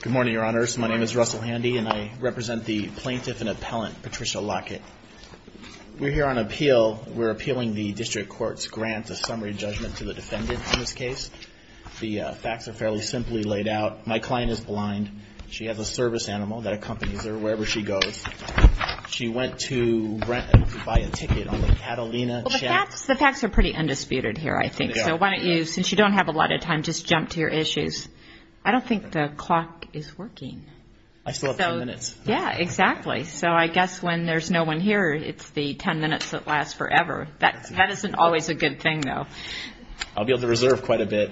Good morning, Your Honors. My name is Russell Handy, and I represent the Plaintiff and Appellant Patricia Lockett. We're here on appeal. We're appealing the District Court's grant of summary judgment to the defendant on this case. The facts are fairly simply laid out. My client is blind. She has a service animal that accompanies her wherever she goes. She went to buy a ticket on the Catalina Channel Express. The facts are pretty undisputed here, I think. So why don't you, since you don't have a lot of time, just jump to your issues. I don't think the clock is working. I still have 10 minutes. Yeah, exactly. So I guess when there's no one here, it's the 10 minutes that last forever. That isn't always a good thing, though. I'll be able to reserve quite a bit.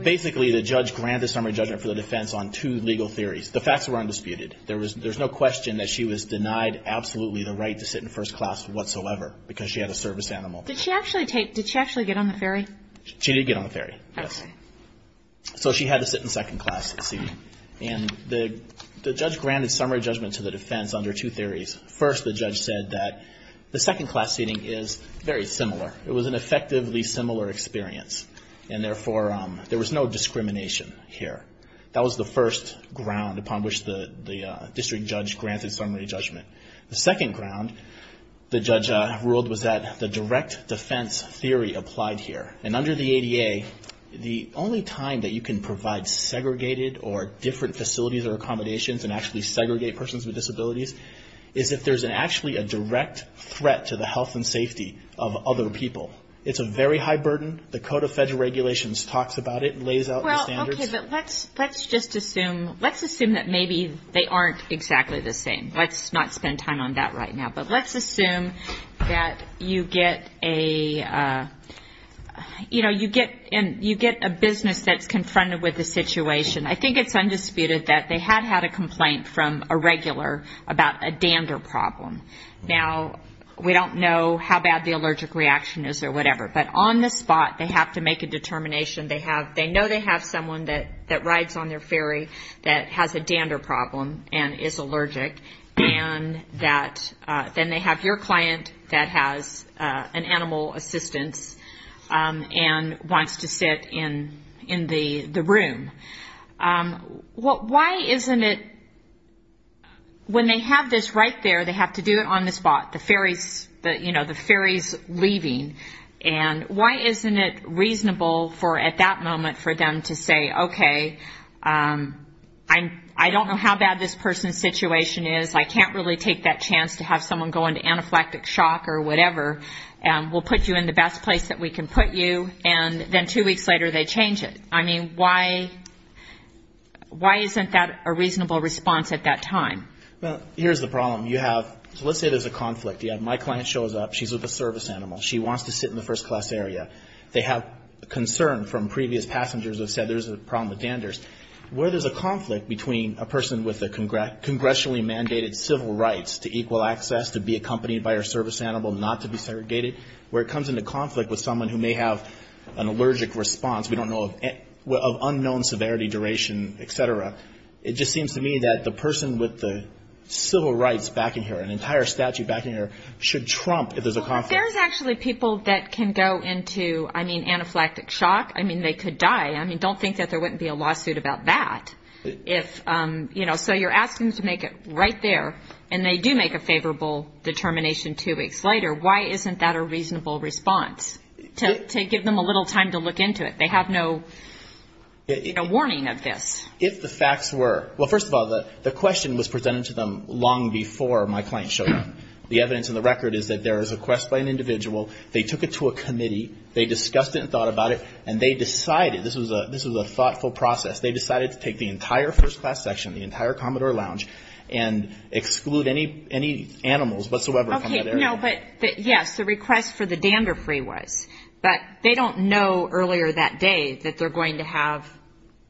Basically, the judge granted summary judgment for the defense on two legal theories. The facts were undisputed. There's no question that she was denied absolutely the right to sit in first class whatsoever because she had a service animal. Did she actually get on the ferry? She did get on the ferry, yes. So she had to sit in second class seating. And the judge granted summary judgment to the defense under two theories. First, the judge said that the second class seating is very similar. It was an effectively similar experience, and therefore, there was no discrimination here. That was the first ground upon which the district judge granted summary judgment. The second ground the judge ruled was that the direct defense theory applied here. And under the ADA, the only time that you can provide segregated or different facilities or accommodations and actually segregate persons with disabilities is if there's actually a direct threat to the health and safety of other people. It's a very high burden. The Code of Federal Regulations talks about it and lays out the standards. Okay, but let's just assume, let's assume that maybe they aren't exactly the same. Let's not spend time on that right now. But let's assume that you get a, you know, you get a business that's confronted with a situation. I think it's undisputed that they had had a complaint from a regular about a dander problem. Now, we don't know how bad the allergic reaction is or whatever, but on the spot, they have to make a determination. They have, they know they have someone that rides on their ferry that has a dander problem and is allergic, and that then they have your client that has an animal assistance and wants to sit in the room. Why isn't it, when they have this right there, they have to do it on the spot, the ferries, you know, the ferries leaving. And why isn't it reasonable for, at that moment, for them to say, okay, I don't know how bad this person's situation is. I can't really take that chance to have someone go into anaphylactic shock or whatever. We'll put you in the best place that we can put you. And then two weeks later, they change it. I mean, why, why isn't that a reasonable response at that time? Well, here's the problem. You have, let's say there's a conflict. You have my client shows up. She's with a service animal. She wants to sit in the first class area. They have concern from previous passengers who have said there's a problem with danders. Where there's a conflict between a person with a congressionally mandated civil rights to equal access, to be accompanied by her service animal, not to be segregated, where it comes into conflict with someone who may have an allergic response, we don't know, of unknown severity, duration, et cetera, it just seems to me that the person with the civil rights back in here, an entire statute back in here, should trump if there's a conflict. Well, if there's actually people that can go into, I mean, anaphylactic shock, I mean, they could die. I mean, don't think that there wouldn't be a lawsuit about that. If, you know, so you're asking to make it right there. And they do make a favorable determination two weeks later. Why isn't that a reasonable response to give them a little time to look into it? They have no warning of this. If the facts were, well, first of all, the question was presented to them long before my client showed up. The evidence in the record is that there is a quest by an individual. They took it to a committee. They discussed it and thought about it. And they decided, this was a thoughtful process, they decided to take the entire first class section, the entire Commodore Lounge, and exclude any animals whatsoever from that area. Okay, no, but yes, the request for the dander free was. But they don't know earlier that day that they're going to have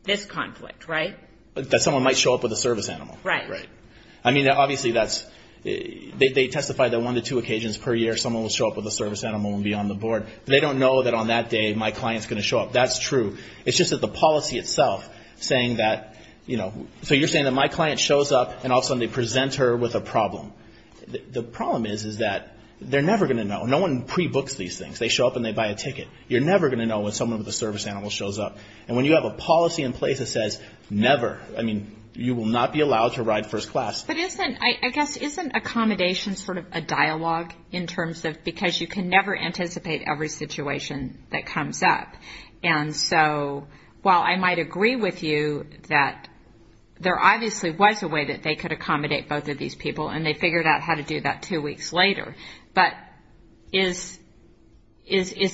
this conflict, right? That someone might show up with a service animal. Right. Right. I mean, obviously that's, they testify that one to two occasions per year someone will show up with a service animal and be on the board. They don't know that on that day my client's going to show up. That's true. It's just that the policy itself saying that, you know, so you're saying that my client shows up and all of a sudden they present her with a problem. The problem is, is that they're never going to know. No one pre-books these things. They show up and they buy a ticket. You're never going to know when someone with a service animal shows up. And when you have a policy in place that says never, I mean, you will not be allowed to ride first class. But isn't, I guess, isn't accommodation sort of a dialogue in terms of, because you can never anticipate every situation that comes up. And so while I might agree with you that there obviously was a way that they could accommodate both of these people and they figured out how to do that two weeks later. But is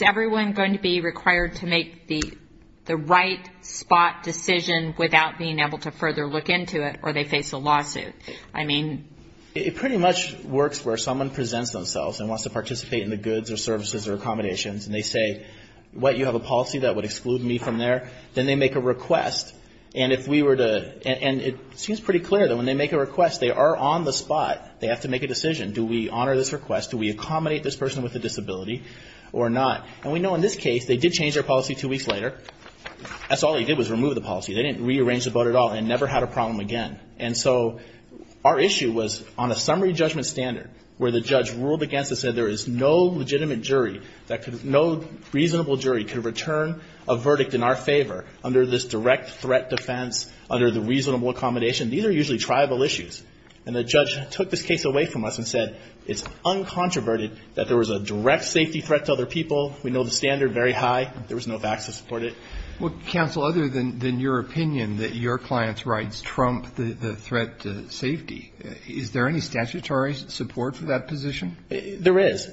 everyone going to be required to make the right spot decision without being able to further look into it or they face a lawsuit? I mean. It pretty much works where someone presents themselves and wants to participate in the goods or services or accommodations. And they say, what, you have a policy that would exclude me from there? Then they make a request. And if we were to, and it seems pretty clear that when they make a request they are on the spot. They have to make a decision. Do we honor this request? Do we accommodate this person with a disability or not? And we know in this case they did change their policy two weeks later. That's all they did was remove the policy. They didn't rearrange the vote at all and never had a problem again. And so our issue was on a summary judgment standard where the judge ruled against us and said there is no legitimate jury, no reasonable jury could return a verdict in our favor under this direct threat defense, under the reasonable accommodation. These are usually tribal issues. And the judge took this case away from us and said it's uncontroverted that there was a direct safety threat to other people. We know the standard very high. There was no facts to support it. Well, counsel, other than your opinion that your client's rights trump the threat to safety, is there any statutory support for that position? There is.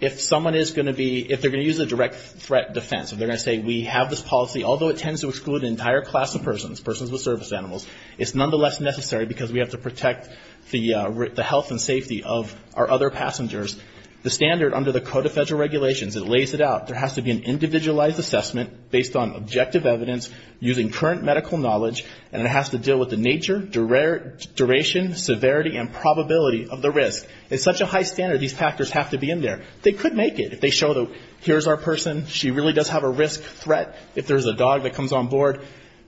If someone is going to be, if they're going to use a direct threat defense, if they're going to say we have this policy, although it tends to exclude an entire class of persons, persons with service animals, it's nonetheless necessary because we have to protect the health and safety of our other passengers. The standard under the Code of Federal Regulations, it lays it out, there has to be an individualized assessment based on objective evidence using current medical knowledge and it has to deal with the nature, duration, severity and probability of the risk. It's such a high standard these factors have to be in there. They could make it if they show that here's our person, she really does have a risk threat, if there's a dog that comes on board.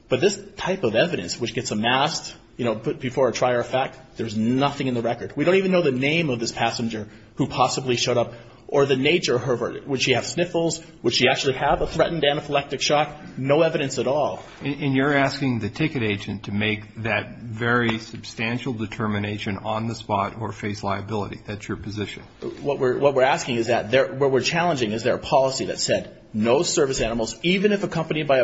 But this type of evidence which gets amassed, you know, before a trier of fact, there's nothing in the record. We don't even know the name of this passenger who possibly showed up or the nature of her verdict. Would she have sniffles? Would she actually have a threatened anaphylactic shock? No evidence at all. And you're asking the ticket agent to make that very substantial determination on the spot or face liability. That's your position. What we're asking is that, what we're challenging is there a policy that said no service animals, even if accompanied by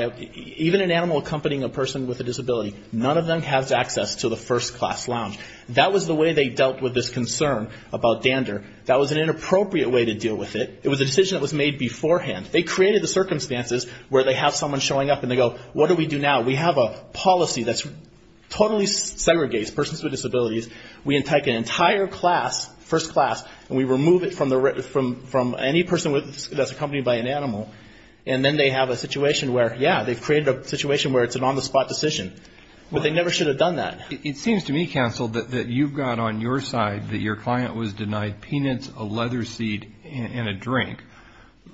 a, even an animal accompanying a person with a disability, none of them has access to the first class lounge. That was the way they dealt with this concern about dander. That was an inappropriate way to deal with it. It was a decision that was made beforehand. They created the circumstances where they have someone showing up and they go, what do we do now? We have a policy that totally segregates persons with disabilities. We take an entire class, first class, and we remove it from any person that's accompanied by an animal and then they have a situation where, yeah, they've created a situation where it's an on-the-spot decision. But they never should have done that. It seems to me, counsel, that you've got on your side that your client was denied peanuts, a leather seat, and a drink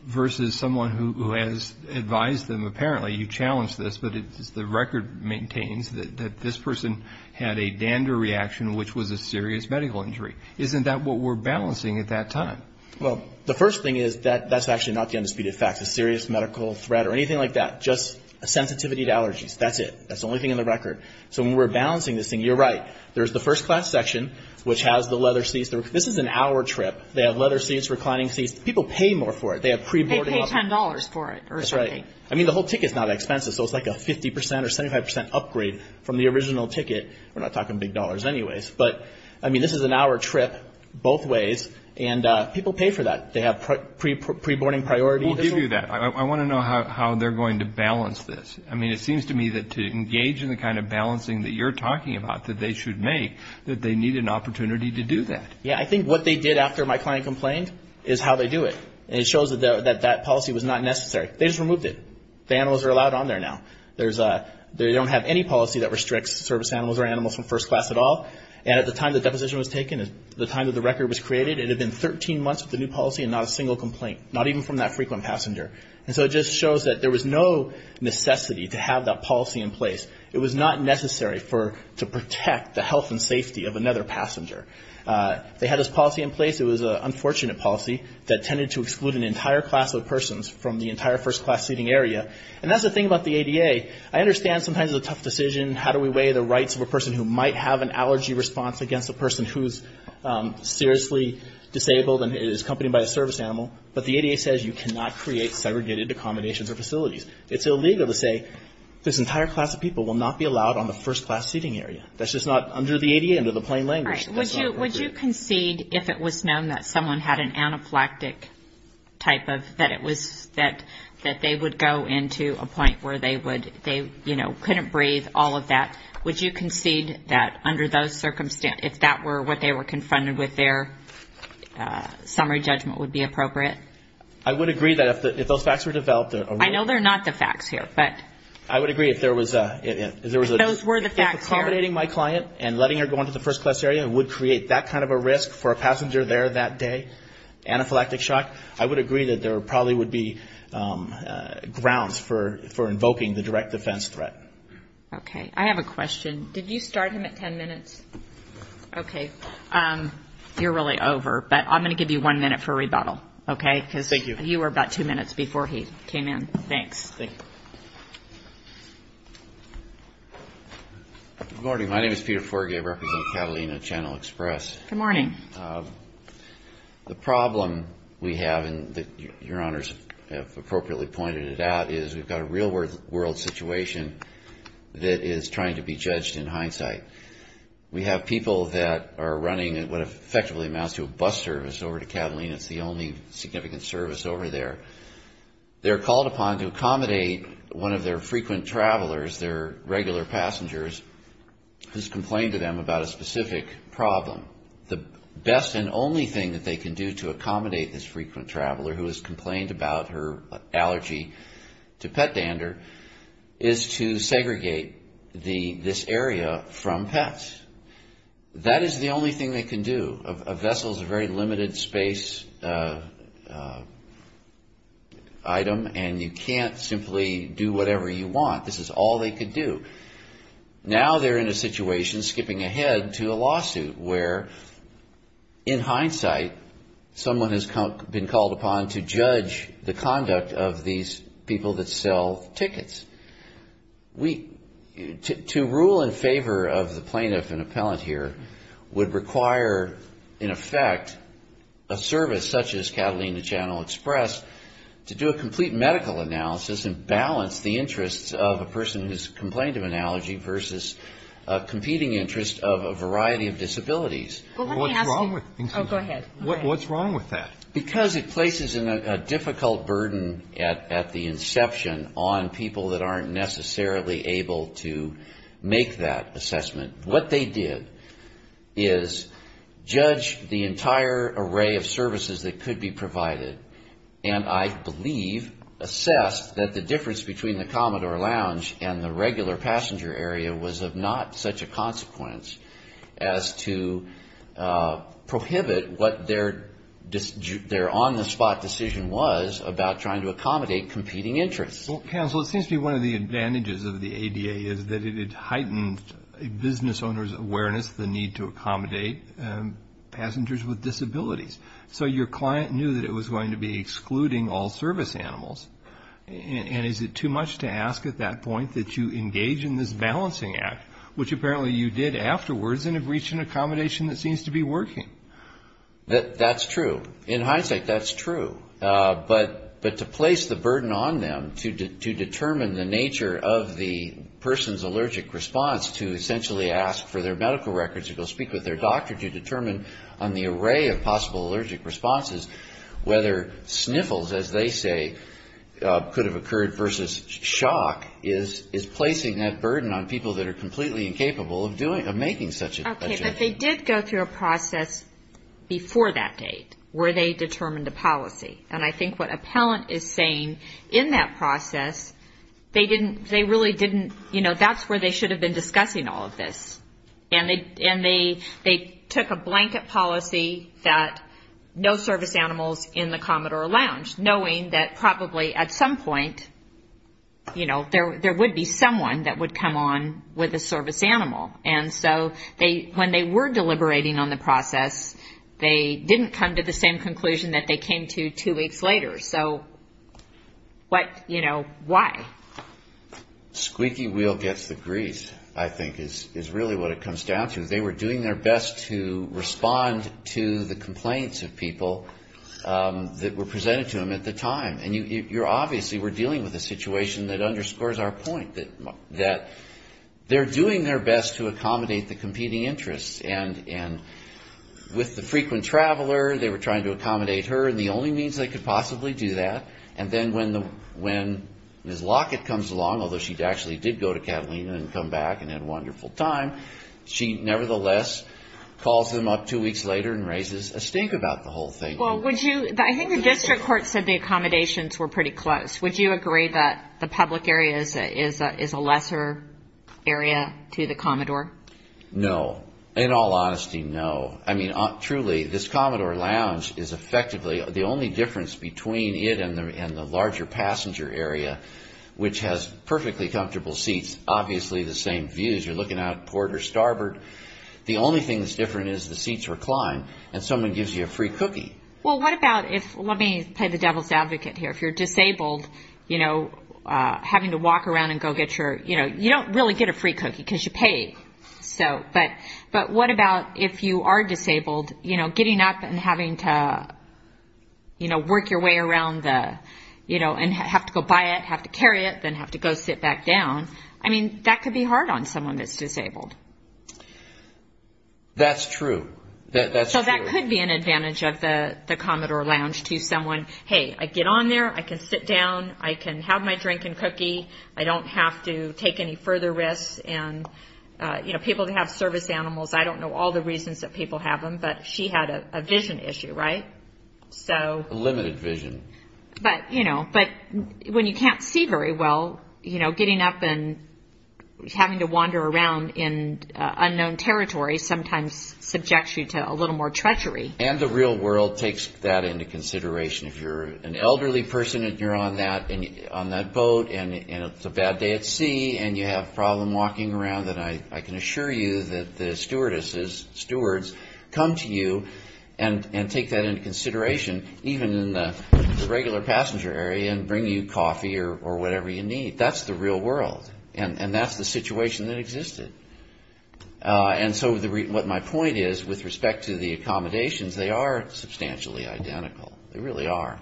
versus someone who has advised them, apparently you challenged this, but the record maintains that this person had a dander reaction, which was a serious medical injury. Isn't that what we're balancing at that time? Well, the first thing is that that's actually not the undisputed fact, a serious medical threat or anything like that, just a sensitivity to allergies. That's it. That's the only thing in the record. So when we're balancing this thing, you're right. There's the first class section, which has the leather seats. This is an hour trip. They have leather seats, reclining seats. People pay more for it. They have pre-boarding options. They pay $10 for it. That's right. I mean, the whole ticket's not expensive, so it's like a 50% or 75% upgrade from the original ticket. We're not talking big dollars anyways. But, I mean, this is an hour trip both ways. And people pay for that. They have pre-boarding priority. We'll give you that. I want to know how they're going to balance this. I mean, it seems to me that to engage in the kind of balancing that you're talking about that they should make, that they need an opportunity to do that. Yeah, I think what they did after my client complained is how they do it. And it shows that that policy was not necessary. They just removed it. The animals are allowed on there now. They don't have any policy that restricts service animals or animals from first class at all. And at the time the deposition was taken, at the time that the record was created, it had been 13 months with the new policy and not a single complaint, not even from that frequent passenger. And so it just shows that there was no necessity to have that policy in place. It was not necessary to protect the health and safety of another passenger. They had this policy in place. It was an unfortunate policy that tended to exclude an entire class of persons from the entire first class seating area. And that's the thing about the ADA. I understand sometimes it's a tough decision. How do we weigh the rights of a person who might have an allergy response against a person who's seriously disabled and is accompanied by a service animal? But the ADA says you cannot create segregated accommodations or facilities. It's illegal to say this entire class of people will not be allowed on the first class seating area. That's just not under the ADA, under the plain language. Would you concede if it was known that someone had an anaphylactic type of, that they would go into a point where they couldn't breathe, all of that, would you concede that under those circumstances, if that were what they were confronted with, their summary judgment would be appropriate? I would agree that if those facts were developed. I know they're not the facts here, but. I would agree if there was a. If those were the facts here. If accommodating my client and letting her go into the first class area would create that kind of a risk for a passenger there that day, anaphylactic shock, I would agree that there probably would be grounds for invoking the direct defense threat. Okay. I have a question. Did you start him at ten minutes? Okay. You're really over, but I'm going to give you one minute for rebuttal, okay? Thank you. Because you were about two minutes before he came in. Thanks. Thank you. Good morning. My name is Peter Forgay. I represent Catalina Channel Express. Good morning. The problem we have, and Your Honors have appropriately pointed it out, is we've got a real-world situation that is trying to be judged in hindsight. We have people that are running what effectively amounts to a bus service over to Catalina. It's the only significant service over there. They're called upon to accommodate one of their frequent travelers, their regular passengers, who has complained to them about a specific problem. The best and only thing that they can do to accommodate this frequent traveler who has complained about her allergy to pet dander is to segregate this area from pets. That is the only thing they can do. A vessel is a very limited space item, and you can't simply do whatever you want. This is all they could do. Now they're in a situation skipping ahead to a lawsuit where, in hindsight, someone has been called upon to judge the conduct of these people that sell tickets. To rule in favor of the plaintiff and appellant here would require, in effect, a service such as Catalina Channel Express to do a complete medical analysis and balance the interests of a person who has complained of an allergy versus a competing interest of a variety of disabilities. What's wrong with that? Because it places a difficult burden at the inception on people that aren't necessarily able to make that assessment. What they did is judge the entire array of services that could be provided, and I believe assessed that the difference between the Commodore Lounge and the regular passenger area was of not such a consequence as to prohibit what their on-the-spot decision was about trying to accommodate competing interests. Well, counsel, it seems to me one of the advantages of the ADA is that it heightened a business owner's awareness, the need to accommodate passengers with disabilities. So your client knew that it was going to be excluding all service animals. And is it too much to ask at that point that you engage in this balancing act, which apparently you did afterwards and have reached an accommodation that seems to be working? That's true. In hindsight, that's true. But to place the burden on them to determine the nature of the person's allergic response to essentially ask for their medical records or go speak with their doctor to determine on the array of possible allergic responses whether sniffles, as they say, could have occurred versus shock is placing that burden on people that are completely incapable of making such a judgment. Okay, but they did go through a process before that date where they determined a policy. And I think what Appellant is saying in that process, they really didn't, you know, that's where they should have been discussing all of this. And they took a blanket policy that no service animals in the Commodore Lounge, knowing that probably at some point, you know, there would be someone that would come on with a service animal. And so when they were deliberating on the process, they didn't come to the same conclusion that they came to two weeks later. So, you know, why? Squeaky wheel gets the grease, I think, is really what it comes down to. They were doing their best to respond to the complaints of people that were presented to them at the time. And you're obviously, we're dealing with a situation that underscores our point that they're doing their best to accommodate the competing interests. And with the frequent traveler, they were trying to accommodate her, and the only means they could possibly do that. And then when Ms. Lockett comes along, although she actually did go to Catalina and come back and had a wonderful time, she nevertheless calls them up two weeks later and raises a stink about the whole thing. Well, would you, I think the district court said the accommodations were pretty close. Would you agree that the public area is a lesser area to the Commodore? No, in all honesty, no. I mean, truly, this Commodore Lounge is effectively, the only difference between it and the larger passenger area, which has perfectly comfortable seats, obviously the same views. You're looking out at Port or Starboard. The only thing that's different is the seats recline and someone gives you a free cookie. Well, what about if, let me play the devil's advocate here, if you're disabled, you know, having to walk around and go get your, you know, you don't really get a free cookie because you pay. But what about if you are disabled, you know, getting up and having to, you know, work your way around the, you know, and have to go buy it, have to carry it, then have to go sit back down. I mean, that could be hard on someone that's disabled. That's true. So that could be an advantage of the Commodore Lounge to someone. Hey, I get on there. I can sit down. I can have my drink and cookie. I don't have to take any further risks. And, you know, people that have service animals, I don't know all the reasons that people have them, but she had a vision issue, right? A limited vision. But, you know, when you can't see very well, you know, getting up and having to wander around in unknown territory sometimes subjects you to a little more treachery. And the real world takes that into consideration. If you're an elderly person and you're on that boat and it's a bad day at sea and you have a problem walking around, then I can assure you that the stewardesses, stewards, come to you and take that into consideration, even in the regular passenger area and bring you coffee or whatever you need. That's the real world. And that's the situation that existed. And so what my point is with respect to the accommodations, they are substantially identical. They really are.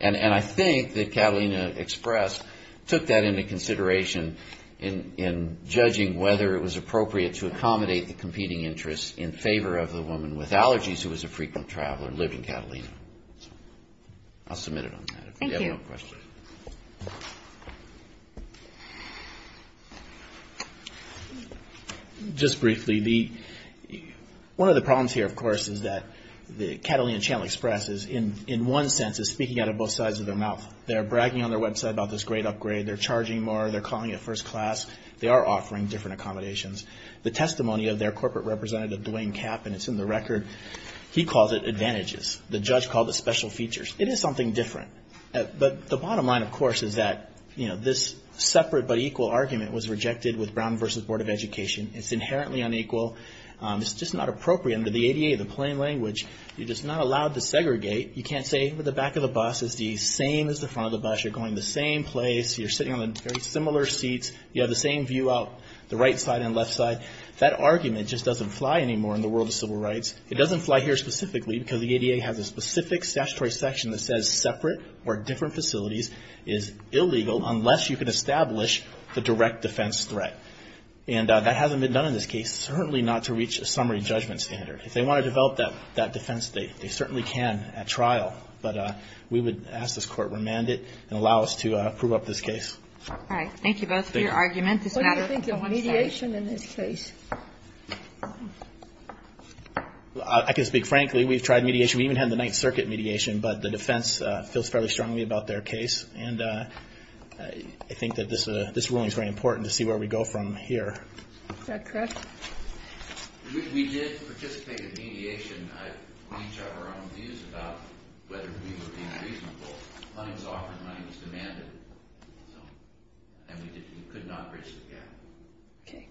And I think that Catalina Express took that into consideration in judging whether it was appropriate to accommodate the competing interests in favor of the woman with allergies who was a frequent traveler living in Catalina. I'll submit it on that, if you have no questions. Thank you. Just briefly, one of the problems here, of course, is that Catalina Channel Express is, in one sense, is speaking out of both sides of their mouth. They're bragging on their website about this great upgrade. They're charging more. They're calling it first class. They are offering different accommodations. The testimony of their corporate representative, Dwayne Kapp, and it's in the record, he calls it advantages. The judge called it special features. It is something different. But the bottom line, of course, is that this separate but equal argument was rejected with Brown v. Board of Education. It's inherently unequal. It's just not appropriate. Under the ADA, the plain language, you're just not allowed to segregate. You can't say the back of the bus is the same as the front of the bus. You're going to the same place. You're sitting on very similar seats. You have the same view out the right side and left side. That argument just doesn't fly anymore in the world of civil rights. It doesn't fly here specifically because the ADA has a specific statutory section that says separate or different facilities is illegal unless you can establish the direct defense threat. And that hasn't been done in this case. It's certainly not to reach a summary judgment standard. If they want to develop that defense, they certainly can at trial. But we would ask this Court remand it and allow us to prove up this case. All right. Thank you both for your argument. What do you think of mediation in this case? I can speak frankly. We've tried mediation. We even had the Ninth Circuit mediation, but the defense feels fairly strongly about their case. And I think that this ruling is very important to see where we go from here. Is that correct? We did participate in mediation. We each have our own views about whether we were being reasonable. Money was offered. Money was demanded. And we could not bridge the gap. Okay.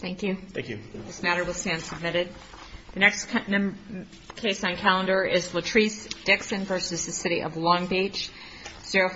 Thank you. Thank you. This matter will stand submitted. The next case on calendar is Latrice Dixon v. City of Long Beach, 05-201.